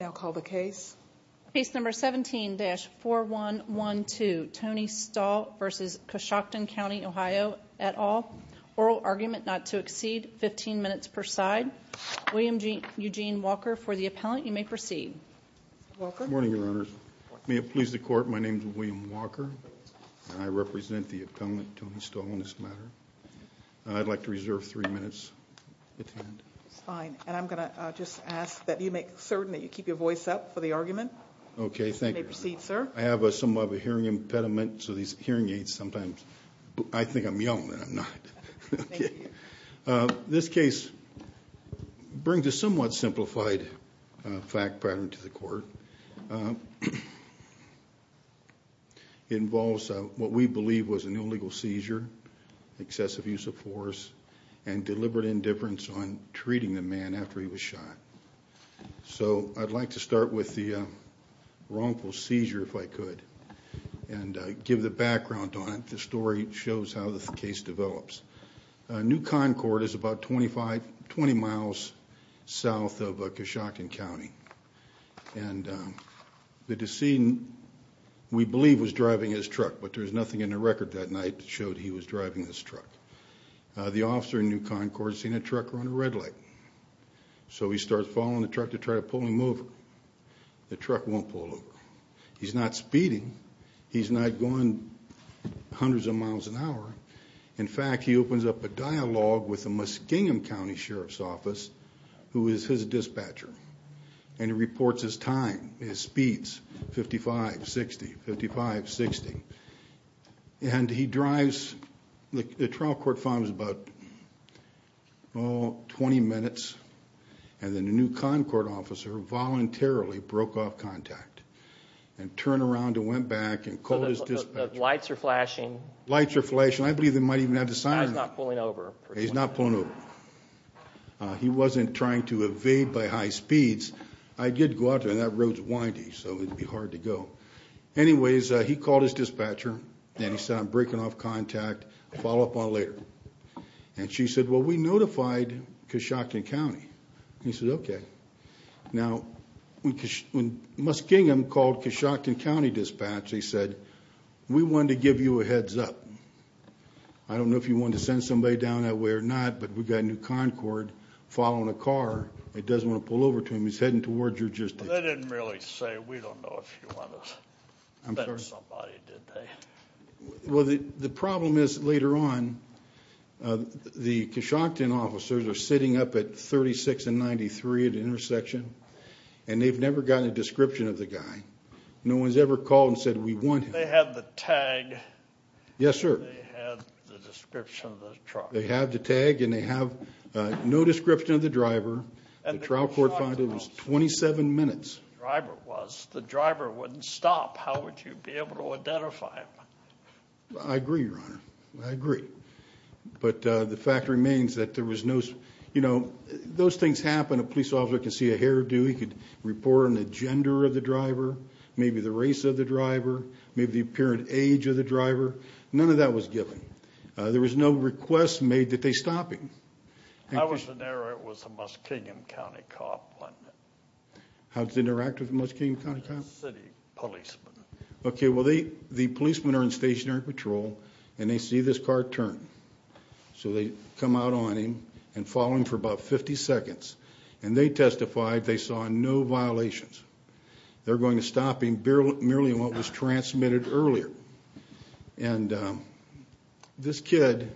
17-4112 Tony Stahl v. Coshocton County, Ohio, et al. Oral argument not to exceed 15 minutes per side. William Eugene Walker for the appellant. You may proceed. Good morning, Your Honors. May it please the Court, my name is William Walker and I represent the appellant, Tony Stahl, on this matter. I'd like to reserve three minutes at the end. Fine. And I'm going to just ask that you make certain that you keep your voice up for the argument. Okay, thank you. You may proceed, sir. I have a somewhat of a hearing impediment, so these hearing aids sometimes, I think I'm young and I'm not. This case brings a somewhat simplified fact pattern to the Court. It involves what we believe was an illegal seizure, excessive use of force, and deliberate indifference on treating the man after he was shot. So I'd like to start with the wrongful seizure, if I could, and give the background on it. The story shows how the case develops. New Concord is about 20 miles south of Coshocton County. And the decedent, we believe, was driving his truck, but there's nothing in the record that night that showed he was driving this truck. The officer in New Concord has seen a truck run a red light. So he starts following the truck to try to pull him over. The truck won't pull over. He's not speeding. He's not going hundreds of miles an hour. In fact, he opens up a dialogue with the Muskingum County Sheriff's Office, who is his dispatcher, and he reports his time, his speeds, 55, 60, 55, 60. And he drives, the trial court finds about, oh, 20 minutes, and the New Concord officer voluntarily broke off contact and turned around and went back and called his dispatcher. The lights are flashing. Lights are flashing. I believe they might even have the sirens. He's not pulling over. He's not pulling over. He wasn't trying to evade by high speeds. I did go out there, and that road's windy, so it'd be hard to go. Anyways, he called his dispatcher, and he said, I'm breaking off contact. Follow up on it later. And she said, well, we notified Coshocton County. He said, okay. Now, when Muskingum called Coshocton County dispatch, he said, we wanted to give you a heads up. I don't know if you wanted to send somebody down that way or not, but we've got a New Concord following a car. It doesn't want to pull over to him. He's heading towards your district. They didn't really say, we don't know if you want to send somebody, did they? Well, the problem is, later on, the Coshocton officers are sitting up at 36 and 93 at the intersection, and they've never gotten a description of the guy. No one's ever called and said, we want him. They have the tag. Yes, sir. They have the description of the truck. They have the tag, and they have no description of the driver. And the trial court found it was 27 minutes. The driver wouldn't stop. How would you be able to identify him? I agree, Your Honor. I agree. But the fact remains that there was no, you know, those things happen. A police officer can see a hairdo. He could report on the gender of the driver, maybe the race of the driver, maybe the apparent age of the driver. None of that was given. There was no request made that they stop him. I was in there. It was a Muskingum County cop. How did they interact with the Muskingum County cops? City policemen. OK, well, the policemen are in stationary patrol, and they see this car turn. So they come out on him and follow him for about 50 seconds. And they testified they saw no violations. They're going to stop him merely on what was transmitted earlier. And this kid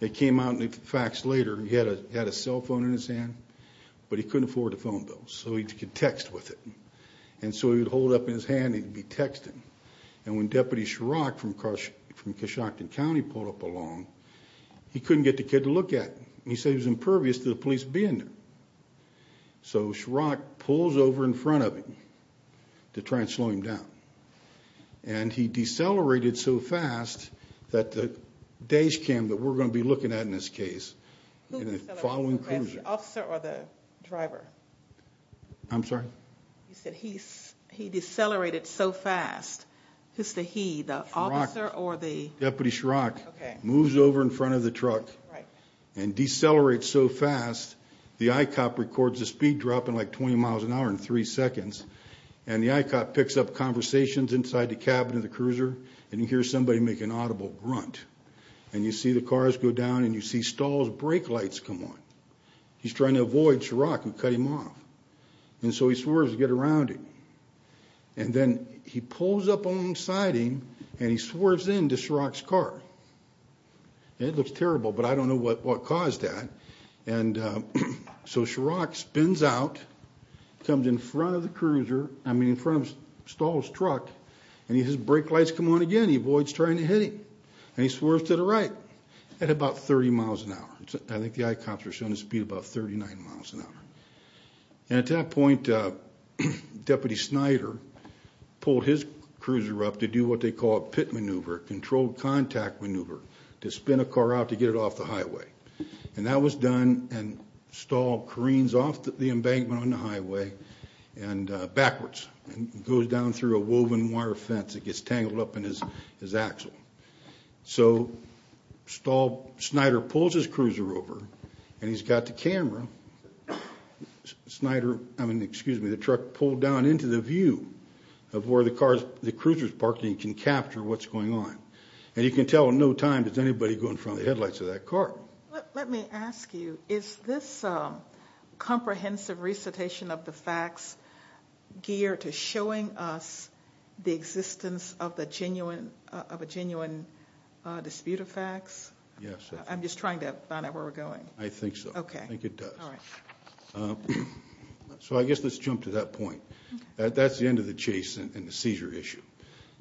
that came out in the fax later, he had a cell phone in his hand, but he couldn't afford a phone. So he could text with it. And so he would hold it up in his hand, and he'd be texting. And when Deputy Schrock from Coshocton County pulled up along, he couldn't get the kid to look at him. And he said he was impervious to the police being there. So Schrock pulls over in front of him to try and slow him down. And he decelerated so fast that the dash cam that we're going to be looking at in this case, following cruising. The officer or the driver? I'm sorry? You said he decelerated so fast. Who's the he, the officer or the- Deputy Schrock moves over in front of the truck and decelerates so fast. The I-COP records the speed drop in like 20 miles an hour in three seconds. And the I-COP picks up conversations inside the cabin of the cruiser, and you hear somebody make an audible grunt. And you see the cars go down, and you see Stahl's brake lights come on. He's trying to avoid Schrock and cut him off. And so he swerves to get around him. And then he pulls up alongside him, and he swerves into Schrock's car. It looks terrible, but I don't know what caused that. And so Schrock spins out, comes in front of the cruiser, I mean in front of Stahl's truck, and he has brake lights come on again. He avoids trying to hit him. And he swerves to the right at about 30 miles an hour. I think the I-COPs are showing a speed of about 39 miles an hour. And at that point, Deputy Snyder pulled his cruiser up to do what they call a pit maneuver, controlled contact maneuver, to spin a car out to get it off the highway. And that was done, and Stahl careens off the embankment on the highway and goes down through a woven wire fence that gets tangled up in his axle. So Stahl, Snyder pulls his cruiser over, and he's got the camera. Snyder, I mean, excuse me, the truck pulled down into the view of where the car's, the cruiser's parking, and can capture what's going on. And you can tell in no time, does anybody go in front of the headlights of that car? Let me ask you, is this comprehensive recitation of the facts geared to showing us the existence of a genuine dispute of facts? Yes. I'm just trying to find out where we're going. I think so. Okay. I think it does. All right. So I guess let's jump to that point. That's the end of the chase and the seizure issue.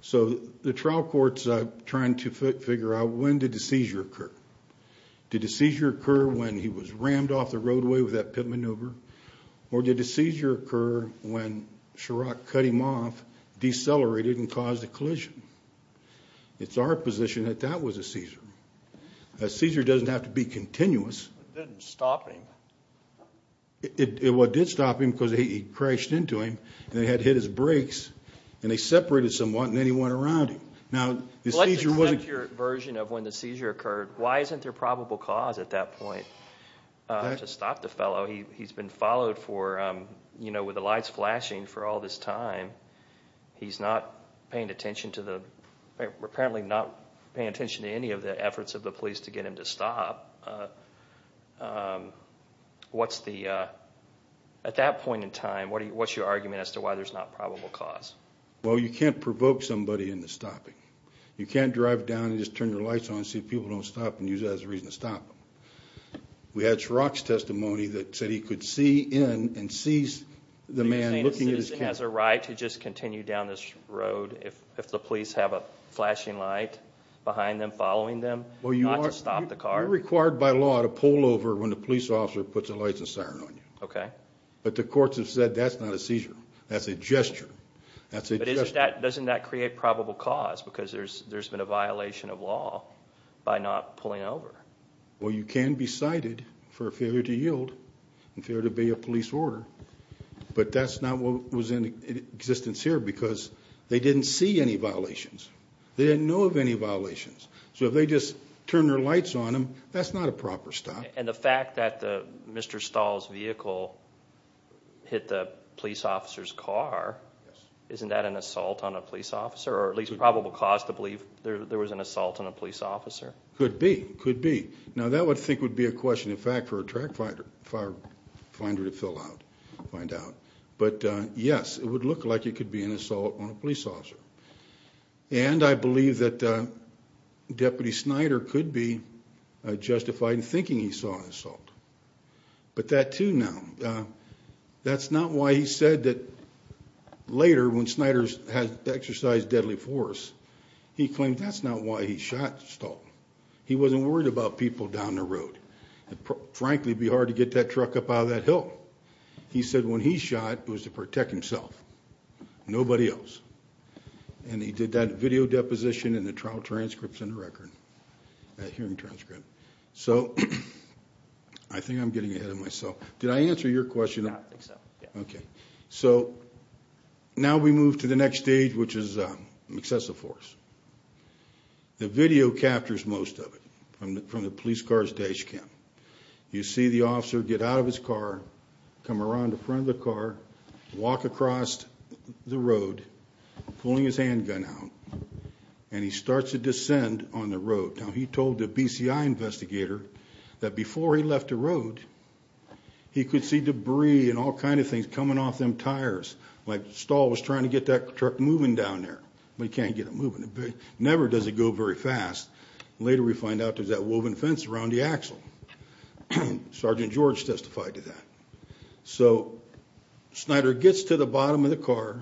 So the trial court's trying to figure out when did the seizure occur? Did the seizure occur when he was rammed off the roadway with that pit maneuver? Or did the seizure occur when Chirac cut him off, decelerated, and caused a collision? It's our position that that was a seizure. A seizure doesn't have to be continuous. It didn't stop him. It did stop him because he crashed into him, and he had hit his brakes, and they separated someone, and then he went around him. Now, the seizure wasn't- Well, let's accept your version of when the seizure occurred. Why isn't there probable cause at that point to stop the fellow? He's been followed with the lights flashing for all this time. He's apparently not paying attention to any of the efforts of the police to get him to stop. At that point in time, what's your argument as to why there's not probable cause? Well, you can't provoke somebody into stopping. You can't drive down and just turn your lights on, see if people don't stop, and use that as a reason to stop them. We had Chirac's testimony that said he could see in and sees the man looking at his car. You're saying a citizen has a right to just continue down this road if the police have a flashing light behind them, following them, not to stop the car? You're not required by law to pull over when the police officer puts the lights and siren on you. Okay. But the courts have said that's not a seizure. That's a gesture. That's a gesture. But doesn't that create probable cause? Because there's been a violation of law by not pulling over. Well, you can be cited for a failure to yield and failure to obey a police order, but that's not what was in existence here because they didn't see any violations. They didn't know of any violations. So if they just turn their lights on them, that's not a proper stop. And the fact that Mr. Stahl's vehicle hit the police officer's car, isn't that an assault on a police officer, or at least probable cause to believe there was an assault on a police officer? Could be. Could be. Now, that I think would be a question, in fact, for a track finder to fill out, find out. But yes, it would look like it could be an assault on a police officer. And I believe that Deputy Snyder could be justified in thinking he saw an assault. But that, too, now, that's not why he said that later, when Snyder had exercised deadly force, he claimed that's not why he shot Stahl. He wasn't worried about people down the road. Frankly, it would be hard to get that truck up out of that hill. He said when he shot, it was to protect himself, nobody else. And he did that video deposition in the trial transcripts in the record, that hearing transcript. So, I think I'm getting ahead of myself. Did I answer your question? I think so, yeah. Okay. So, now we move to the next stage, which is excessive force. The video captures most of it, from the police car's dash cam. You see the officer get out of his car, come around the front of the car, walk across the road, pulling his handgun out. And he starts to descend on the road. Now, he told the BCI investigator that before he left the road, he could see debris and all kinds of things coming off them tires, like Stahl was trying to get that truck moving down there. But he can't get it moving. It never does it go very fast. Later, we find out there's that woven fence around the axle. Sergeant George testified to that. So, Snyder gets to the bottom of the car,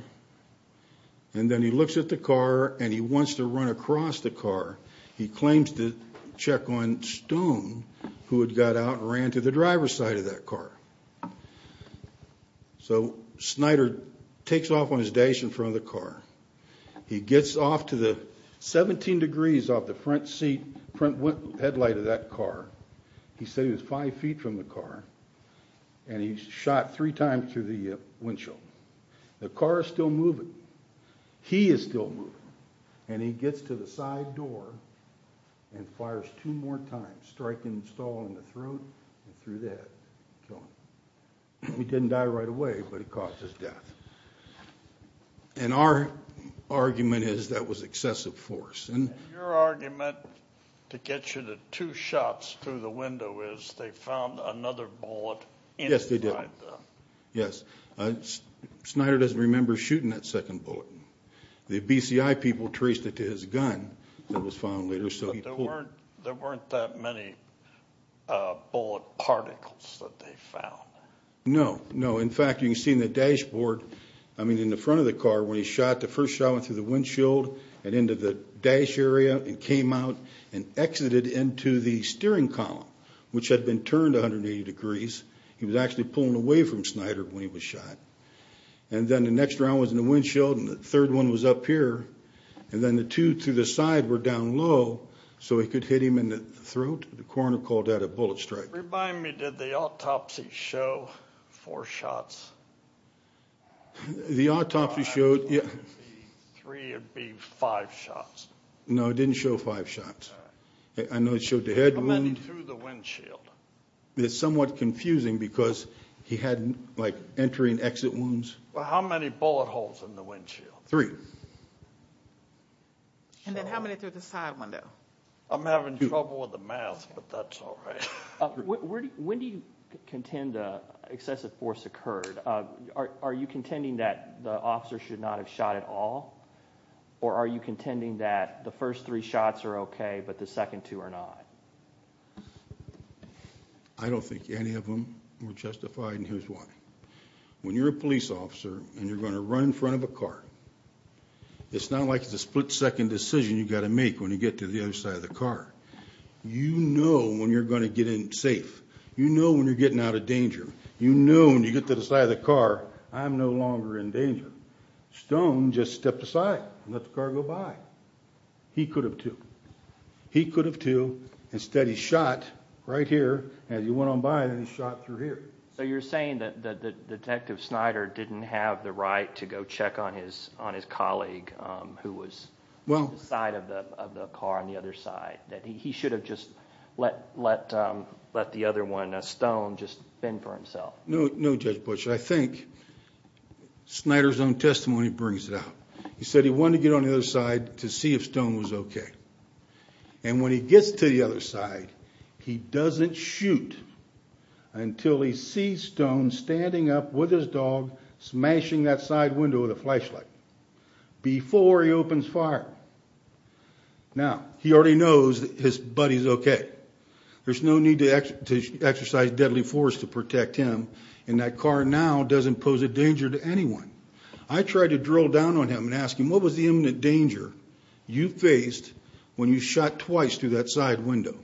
and then he looks at the car, and he wants to run across the car. He claims to check on Stone, who had got out and ran to the driver's side of that car. So, Snyder takes off on his dash in front of the car. He gets off to the 17 degrees off the front seat, front headlight of that car. He said he was 5 feet from the car. And he shot three times through the windshield. The car is still moving. He is still moving. And he gets to the side door and fires two more times, striking Stahl in the throat and through the head. He didn't die right away, but he caused his death. And our argument is that was excessive force. And your argument to get you to two shots through the window is they found another bullet inside the... Yes, they did. Snyder doesn't remember shooting that second bullet. The BCI people traced it to his gun that was found later. But there weren't that many bullet particles that they found. No, no. In fact, you can see in the dashboard, I mean in the front of the car when he shot, the first shot went through the windshield and into the dash area and came out and exited into the steering column, which had been turned 180 degrees. He was actually pulling away from Snyder when he was shot. And then the next round was in the windshield and the third one was up here. And then the two through the side were down low so he could hit him in the throat. The coroner called that a bullet strike. Remind me, did the autopsy show four shots? The autopsy showed... Three would be five shots. No, it didn't show five shots. I know it showed the head wound. How many through the windshield? It's somewhat confusing because he had like entering exit wounds. How many bullet holes in the windshield? Three. And then how many through the side window? I'm having trouble with the math, but that's all right. When do you contend excessive force occurred? Are you contending that the officer should not have shot at all? Or are you contending that the first three shots are okay, but the second two are not? I don't think any of them were justified, and here's why. When you're a police officer and you're going to run in front of a car, it's not like it's a split-second decision you've got to make when you get to the other side of the car. You know when you're going to get in safe. You know when you're getting out of danger. You know when you get to the side of the car, I'm no longer in danger. Stone just stepped aside and let the car go by. He could have, too. He could have, too. Instead, he shot right here. As he went on by, then he shot through here. So you're saying that Detective Snyder didn't have the right to go check on his colleague who was on the side of the car on the other side? That he should have just let the other one, Stone, just fend for himself? No, Judge Butch. I think Snyder's own testimony brings it out. He said he wanted to get on the other side to see if Stone was okay. And when he gets to the other side, he doesn't shoot until he sees Stone standing up with his dog, smashing that side window with a flashlight before he opens fire. Now, he already knows his buddy's okay. There's no need to exercise deadly force to protect him and that car now doesn't pose a danger to anyone. I tried to drill down on him and ask him, what was the imminent danger you faced when you shot twice through that side window?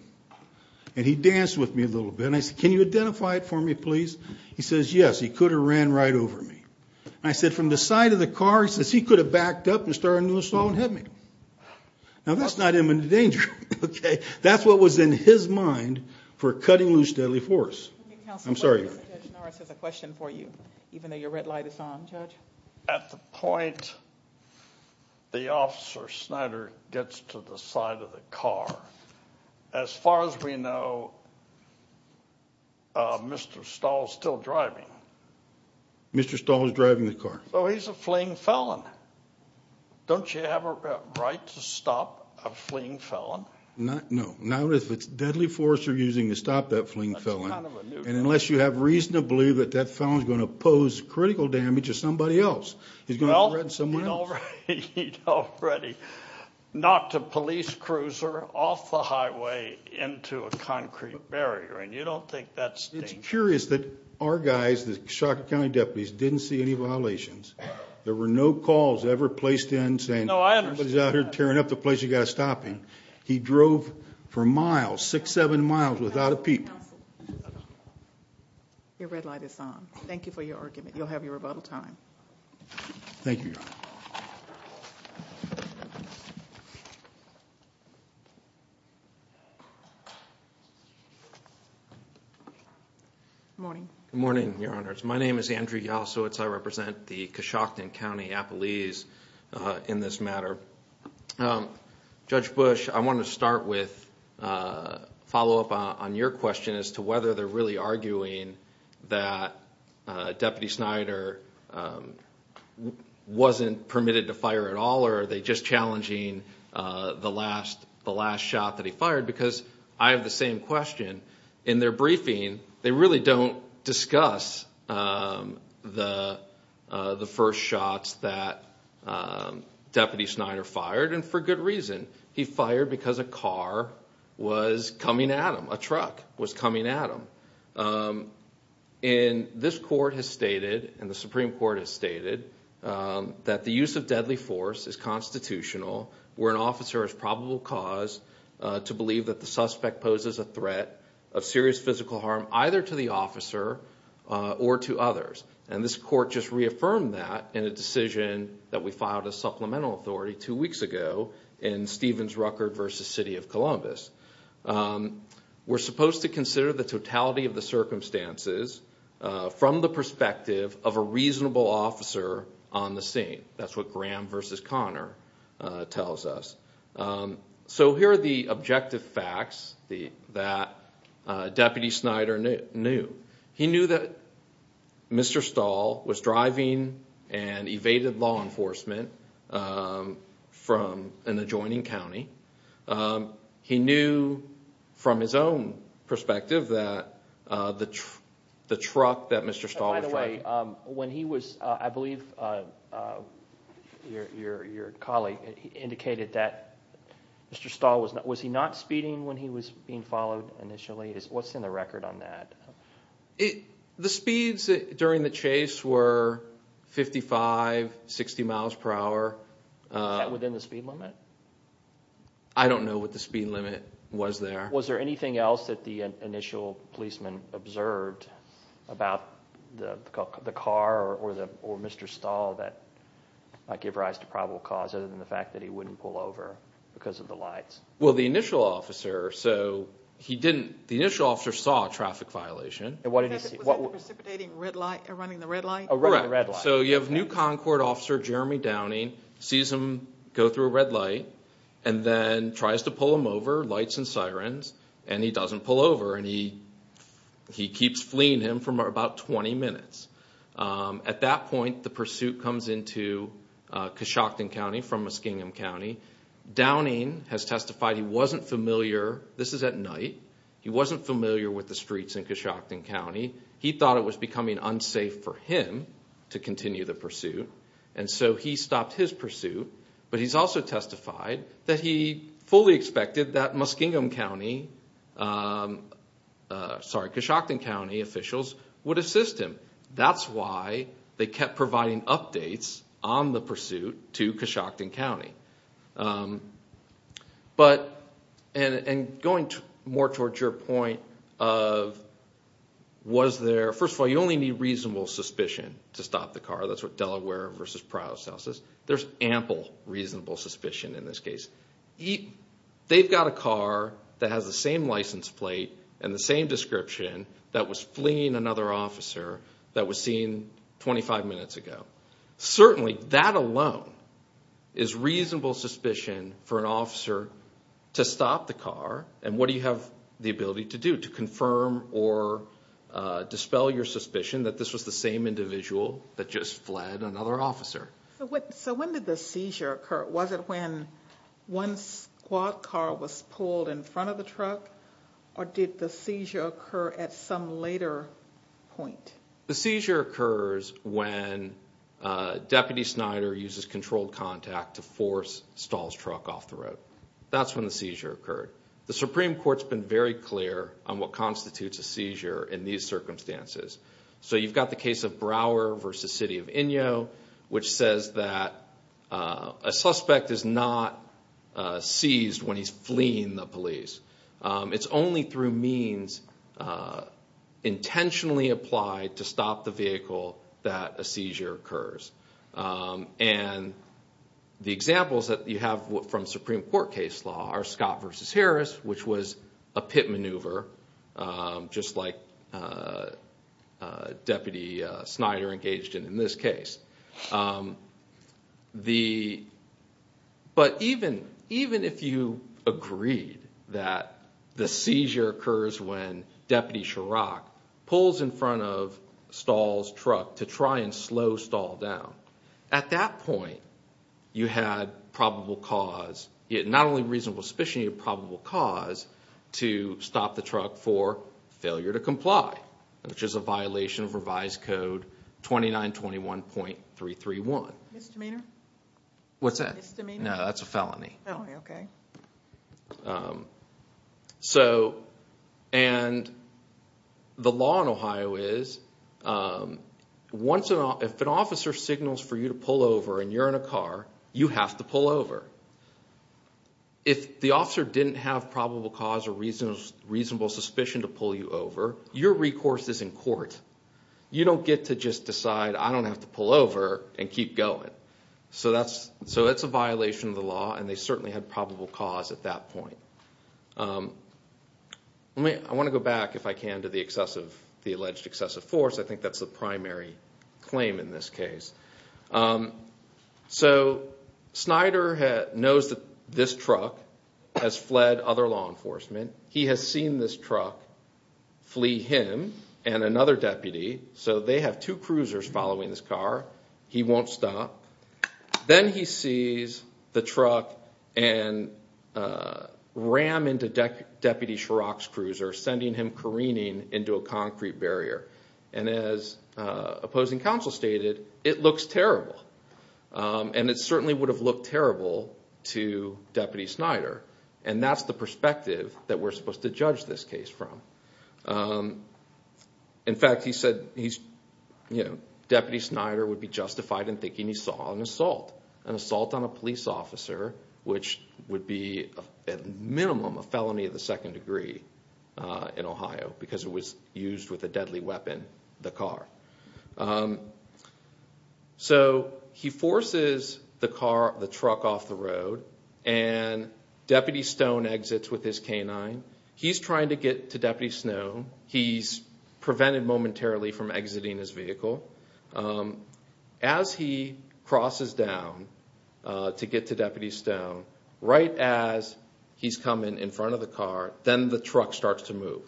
And he danced with me a little bit and I said, can you identify it for me, please? He says, yes, he could have ran right over me. And I said, from the side of the car? He says, he could have backed up and started an assault and hit me. Now, that's not imminent danger, okay? That's what was in his mind for cutting loose deadly force. I'm sorry. Judge Norris has a question for you, even though your red light is on, Judge. At the point the officer, Snyder, gets to the side of the car, as far as we know, Mr. Stahl's still driving. Mr. Stahl is driving the car. So he's a fleeing felon. Don't you have a right to stop a fleeing felon? No. Not if it's deadly force you're using to stop that fleeing felon. And unless you have reason to believe that that felon's going to pose critical damage to somebody else, he's going to threaten someone else. Well, he'd already knocked a police cruiser off the highway into a concrete barrier. And you don't think that's dangerous? It's curious that our guys, the Shaka County deputies, didn't see any violations. There were no calls ever placed in saying, everybody's out here tearing up the place, you've got to stop him. He drove for miles, six, seven miles, without a peep. Counsel. Your red light is on. Thank you for your argument. You'll have your rebuttal time. Thank you, Your Honor. Good morning. Good morning, Your Honors. My name is Andrew Yasowitz. I represent the Coshocton County Appalese in this matter. Judge Bush, I want to start with, follow up on your question as to whether they're really arguing that Deputy Snyder wasn't permitted to fire at all or are they just challenging the last shot that he fired? Because I have the same question. In their briefing, they really don't discuss the first shots that Deputy Snyder fired and for good reason. He fired because a car was coming at him. A truck was coming at him. And this court has stated, and the Supreme Court has stated, that the use of deadly force is constitutional where an officer is probably caused to believe that the suspect poses a threat of serious physical harm either to the officer or to others. And this court just reaffirmed that in a decision that we filed a supplemental authority two weeks ago in Stevens-Ruckert v. City of Columbus. We're supposed to consider the totality of the circumstances from the perspective of a reasonable officer on the scene. That's what Graham v. Connor tells us. So here are the objective facts that Deputy Snyder knew. He knew that Mr. Stahl was driving and evaded law enforcement in the adjoining county. He knew from his own perspective that the truck that Mr. Stahl was driving... By the way, I believe your colleague indicated that Mr. Stahl, was he not speeding when he was being followed initially? What's in the record on that? The speeds during the chase were 55, 60 miles per hour. Was that within the speed limit? I don't know what the speed limit was there. Was there anything else that the initial policeman observed about the car or Mr. Stahl that might give rise to probable cause other than the fact that he wouldn't pull over because of the lights? Well, the initial officer, so he didn't... The initial officer saw a traffic violation. And what did he see? Was it the precipitating red light running the red light? Correct. So you have new Concord officer, Jeremy Downing, sees him go through a red light and then tries to pull him over, lights and sirens, and he doesn't pull over. And he keeps fleeing him for about 20 minutes. At that point, the pursuit comes into Coshocton County from Muskingum County. Downing has testified he wasn't familiar. This is at night. He wasn't familiar with the streets in Coshocton County. He thought it was becoming unsafe for him to continue the pursuit. And so he stopped his pursuit. But he's also testified that he fully expected that Muskingum County... Sorry, Coshocton County officials would assist him. That's why they kept providing updates on the pursuit to Coshocton County. But... And going more towards your point of was there... First of all, you only need reasonable suspicion to stop the car. That's what Delaware v. Prowse House says. There's ample reasonable suspicion in this case. They've got a car that has the same license plate and the same description that was fleeing another officer that was seen 25 minutes ago. Certainly, that alone is reasonable suspicion for an officer to stop the car. And what do you have the ability to do? You need to confirm or dispel your suspicion that this was the same individual that just fled another officer. So when did the seizure occur? Was it when one squad car was pulled in front of the truck or did the seizure occur at some later point? The seizure occurs when Deputy Snyder uses controlled contact to force Stahl's truck off the road. That's when the seizure occurred. The Supreme Court's been very clear on what constitutes a seizure in these circumstances. So you've got the case of Brower v. City of Inyo which says that a suspect is not seized when he's fleeing the police. It's only through means intentionally applied to stop the vehicle that a seizure occurs. And the examples that you have from Supreme Court case law are Scott v. Harris which was a pit maneuver just like Deputy Snyder engaged in in this case. But even if you agreed that the seizure occurs when Deputy Chirac pulls in front of Stahl's truck to try and slow Stahl down at that point you had probable cause not only reasonable suspicion but an opportunity of probable cause to stop the truck for failure to comply which is a violation of Revised Code 2921.331. Misdemeanor? What's that? Misdemeanor? No, that's a felony. Oh, okay. So and the law in Ohio is once an officer signals for you to pull over and you're in a car you have to pull over. If the officer didn't have probable cause or reasonable suspicion to pull you over your recourse is in court. You don't get to just decide I don't have to pull over and keep going. So that's so that's a violation of the law and they certainly had probable cause at that point. I want to go back if I can to the excessive the alleged excessive force I think that's the primary claim in this case. So Snyder knows that this truck has fled other law enforcement he has seen this truck flee him and another deputy so they have two cruisers following this car he won't stop then he sees the truck and ram into Deputy Scharrock's cruiser sending him careening into a concrete barrier and as opposing counsel stated it looks terrible and it certainly would have looked terrible to Deputy Snyder and that's the perspective that we're supposed to judge this case from. In fact he said he's you know Deputy Snyder would be justified in thinking he saw an assault an assault on a police officer which would be at minimum a felony of the second degree in Ohio because it was used with a deadly weapon the car. So he forces the car the truck off the road and Deputy Stone exits with his canine he's trying to get to Deputy Snow he's prevented momentarily from exiting his vehicle as he crosses down to get to Deputy Stone right as he's coming in front of the car then the truck starts to move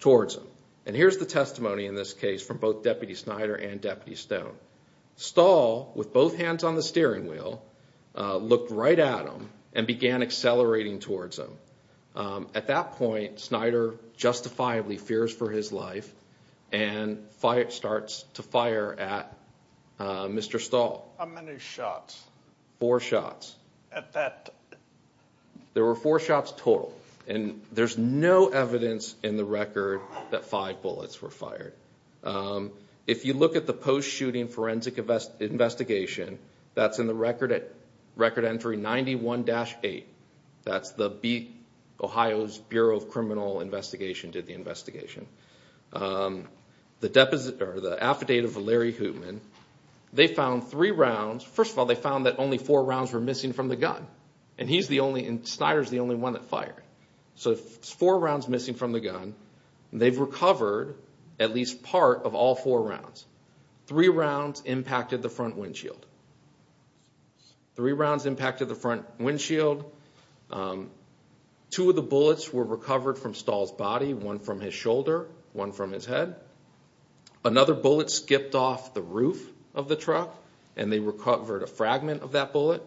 towards him and here's the testimony in this case from both Deputy Snyder and Deputy Stone. Stahl with both hands on the steering wheel looked right at him and began accelerating towards him at that point Snyder justifiably fears for his life and starts to fire at Mr. Stahl. How many shots? Four shots. There were four shots total and there's no evidence in the record that five bullets were fired. If you look at the post shooting forensic investigation that's in the record entry 91-8 that's the Ohio's Bureau of Criminal Investigation did the investigation the affidavit of Larry Hoopman they found three rounds first of all they found that only four rounds were missing from the gun and he's the only and Snyder's the only one that fired so four rounds missing from the gun they've recovered at least part of all four rounds three rounds impacted the front windshield three rounds impacted the front windshield two of the bullets were recovered from Stahl's body one from his shoulder one from his head another bullet skipped off the roof of the truck and they recovered a fragment of that bullet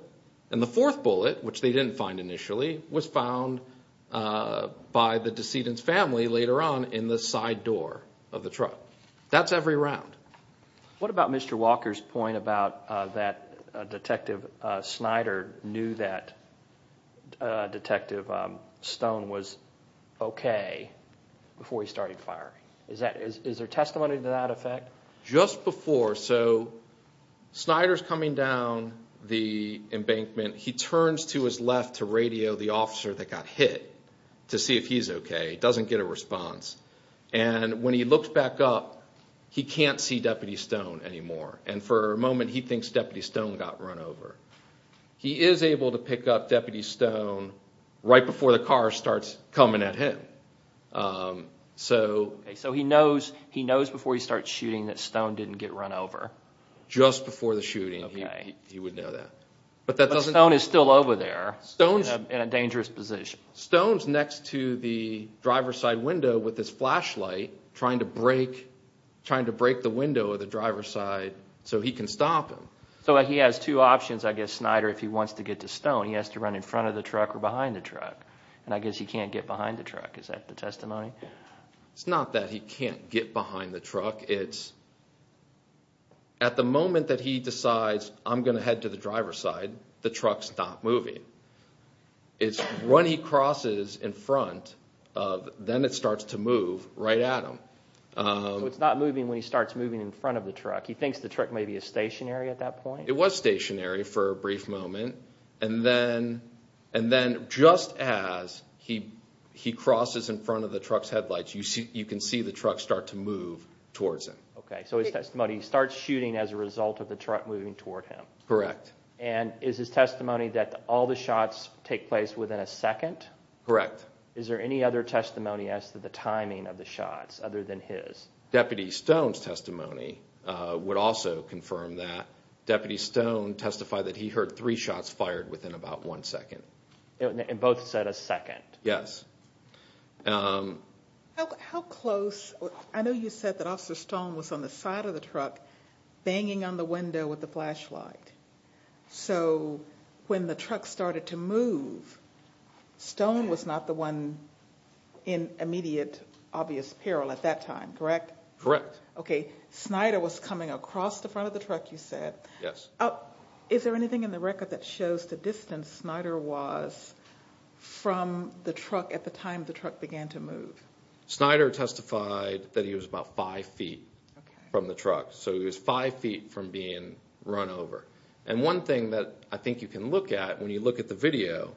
and the fourth bullet which they didn't find initially was found by the decedent's family later on in the side door of the truck that's every round what about Mr. Walker's point about that is there testimony to that effect just before so Snyder's coming down the embankment he turns to his left to radio the officer that got hit to see if he's okay he doesn't get a response and when he looks back up he can't see Deputy Stone anymore and for Mr. Walker he knows before he starts shooting that Stone didn't get run over just before the shooting he would know that but Stone is still over there in a dangerous position Stone's next to the driver's side window with his flashlight trying to break the window of the truck he can't get behind the truck it's at the moment that he decides I'm going to head to the driver's side the truck's not moving it's when he crosses in front of then it starts to move right at him so it's not moving when he starts moving in front of the truck he thinks the truck may be stationary at that point it was stationary for a brief moment and then just as he crosses in front of the truck's headlights you can see the truck start to move towards him so his testimony starts shooting as a result of the of the truck so that would also confirm that deputy stone testified that he heard three shots fired within about one second and both said a second yes how close I know you said that officer stone was on the side of the truck banging on the window with the flashlight so when the truck started to move stone was not the one in immediate obvious peril at that time correct correct okay Snyder was coming across the front of the truck you said yes is there anything in the record that shows the distance Snyder was from the truck at the time the truck began to move Snyder testified that he was about five feet from the truck so he was five feet from being run over and one thing that I think you can look at when you look at the video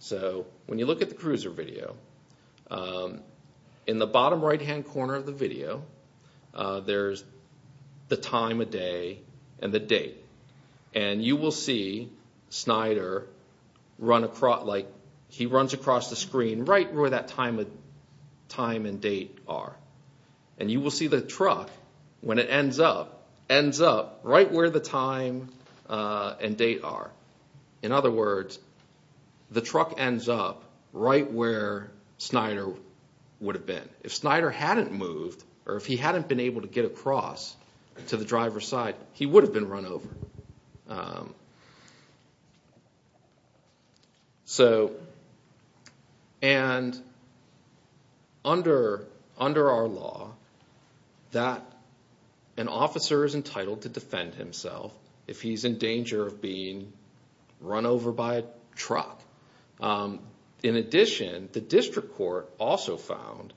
so when you look at the cruiser video in the bottom right hand corner of the video there's the time a day and the date are and you will see the truck when it ends up ends up right where the time and date are in other words the truck ends up right where Snyder would have been if Snyder hadn't moved or if he hadn't been able to get across to the public under our law that an officer is entitled to defend himself if he's in danger of being run over by a truck in addition the district court also found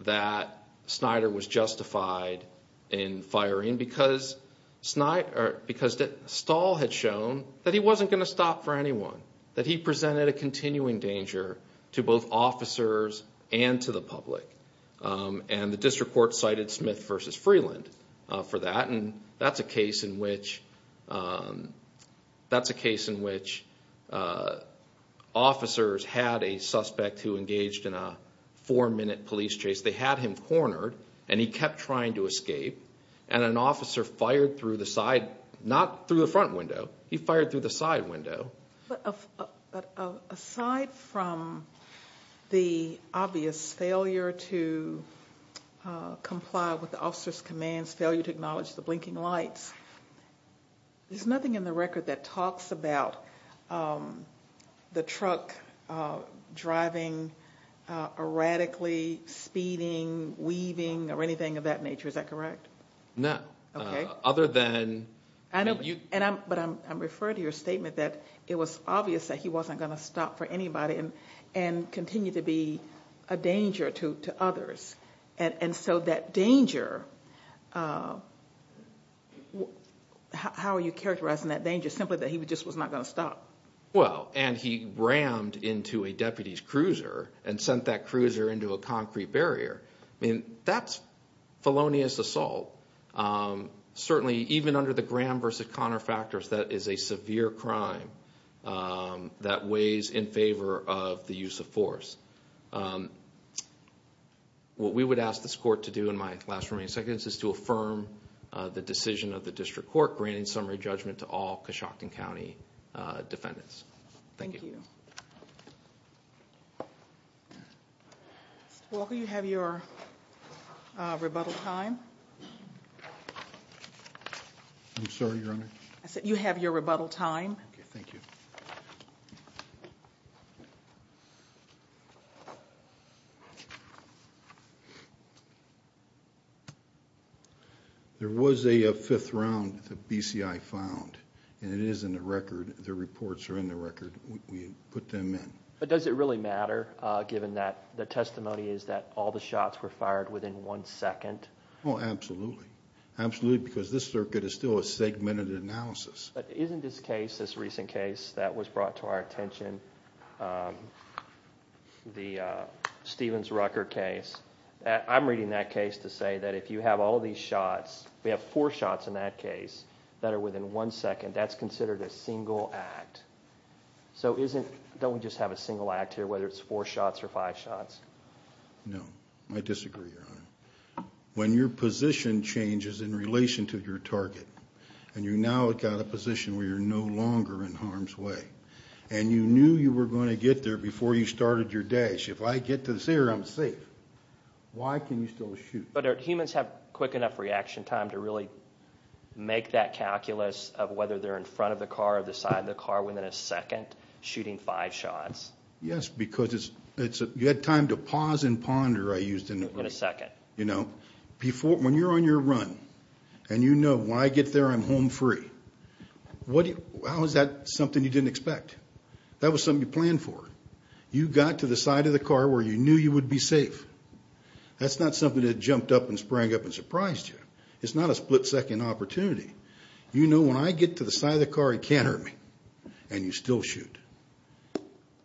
that Snyder was justified in firing because Snyder because Stahl had shown that he wasn't going to stop for anyone that he presented a continuing danger to both officers and to the public and the district court cited Smith vs. Freeland for that and that's a case in which that's a case in which officers had a suspect who engaged in a four minute police chase they had him cornered and he was shot but aside from the obvious failure to comply with the officer's commands failure to acknowledge the blinking lights there's nothing in the record that talks about the truck driving erratically speeding weaving or anything of that nature is that correct? No. Okay. Other than But I'm referring to your statement that it was obvious that he wasn't going to stop for anybody and continue to be a danger to others and so that danger how are you characterizing that danger simply that he just was not going to stop? Well and he rammed into a deputy's cruiser and sent that cruiser into a concrete barrier I mean that's felonious assault certainly even under the Graham vs. Connor factors that is a severe crime that weighs in favor of the use of force what we would ask this court to do in my last remaining seconds is to affirm the decision of the district court granting summary judgment to all Cushockton County defendants. Thank you. Mr. Walker Mr. Walker you have your rebuttal time I'm sorry Your Honor I said you have your rebuttal time Thank you There was a fifth round the BCI found and it is in the record the reports are in the record and we put them in But does it really matter given that the testimony is that all the shots were fired within one second Oh absolutely absolutely because this circuit is still a segmented analysis Isn't this case this recent case that was brought to our attention the Stevens Rucker Rucker case I'm reading that case to say that if you have all these shots we have four shots in that case that are within one second that's considered a single act so isn't don't we just have a single act here whether it's four shots or five shots No I disagree when your position changes in relation to your target and you now have got a position where you're no longer in harm's way and you knew you were going to get there before you started your dash if I get to there I'm safe why can you still shoot but humans have quick enough reaction time to really make that calculus of whether they're in front of the car or the side of the car within a second shooting five shots yes because you had time to pause and ponder I used in a second you know before when you're on your run and you know when I get there I'm home free what how is that something you didn't expect that was something you planned for you got to the side of the car where you knew you would be safe that's not something that jumped up and sprang up and surprised you it's not a split second opportunity you know when I get to the side of the car he can't hurt me and you still shoot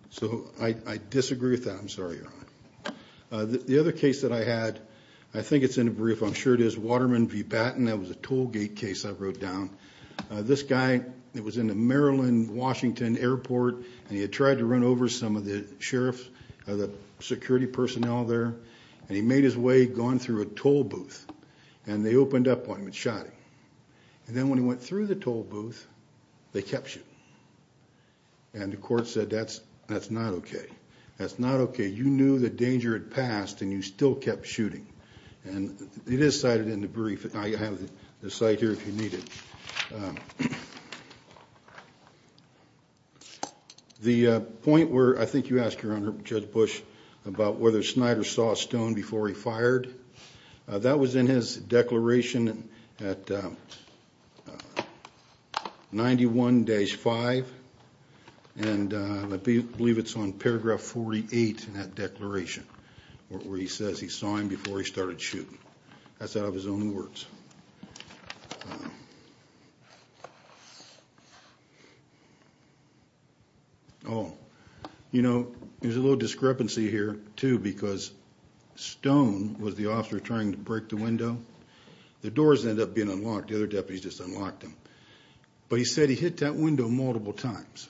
so I disagree with that I'm sorry your honor the other case that I had I think it's in the brief I'm sure it is Waterman v. Batten that was a toll gate case I wrote down this guy was in a Maryland Washington airport and he tried to run over some of the sheriff security personnel there and he made his way through a toll booth and they opened up one and shot him and then when he went through the toll booth they kept him and the court said that's not okay that's not okay you knew the danger had occurred that was in his declaration at 91-5 and I believe it's on paragraph 48 in that declaration where he says he saw him before he started shooting that's out of his own words oh you know there's a little discrepancy here too because Stone was the officer trying to break the window the doors ended up being unlocked the other deputies just unlocked him but he said he hit that window multiple times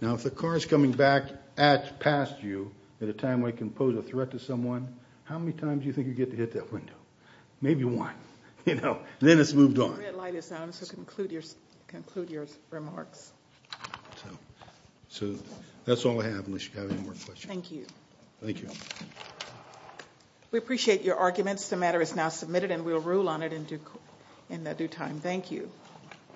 now if the car is coming back past you at a time when it can pose a threat to someone how many times do you think you get to hit that window maybe one then it's moved on so that's all I have unless you have any more questions thank you we appreciate your arguments the matter is now submitted and we'll rule on it in due time thank you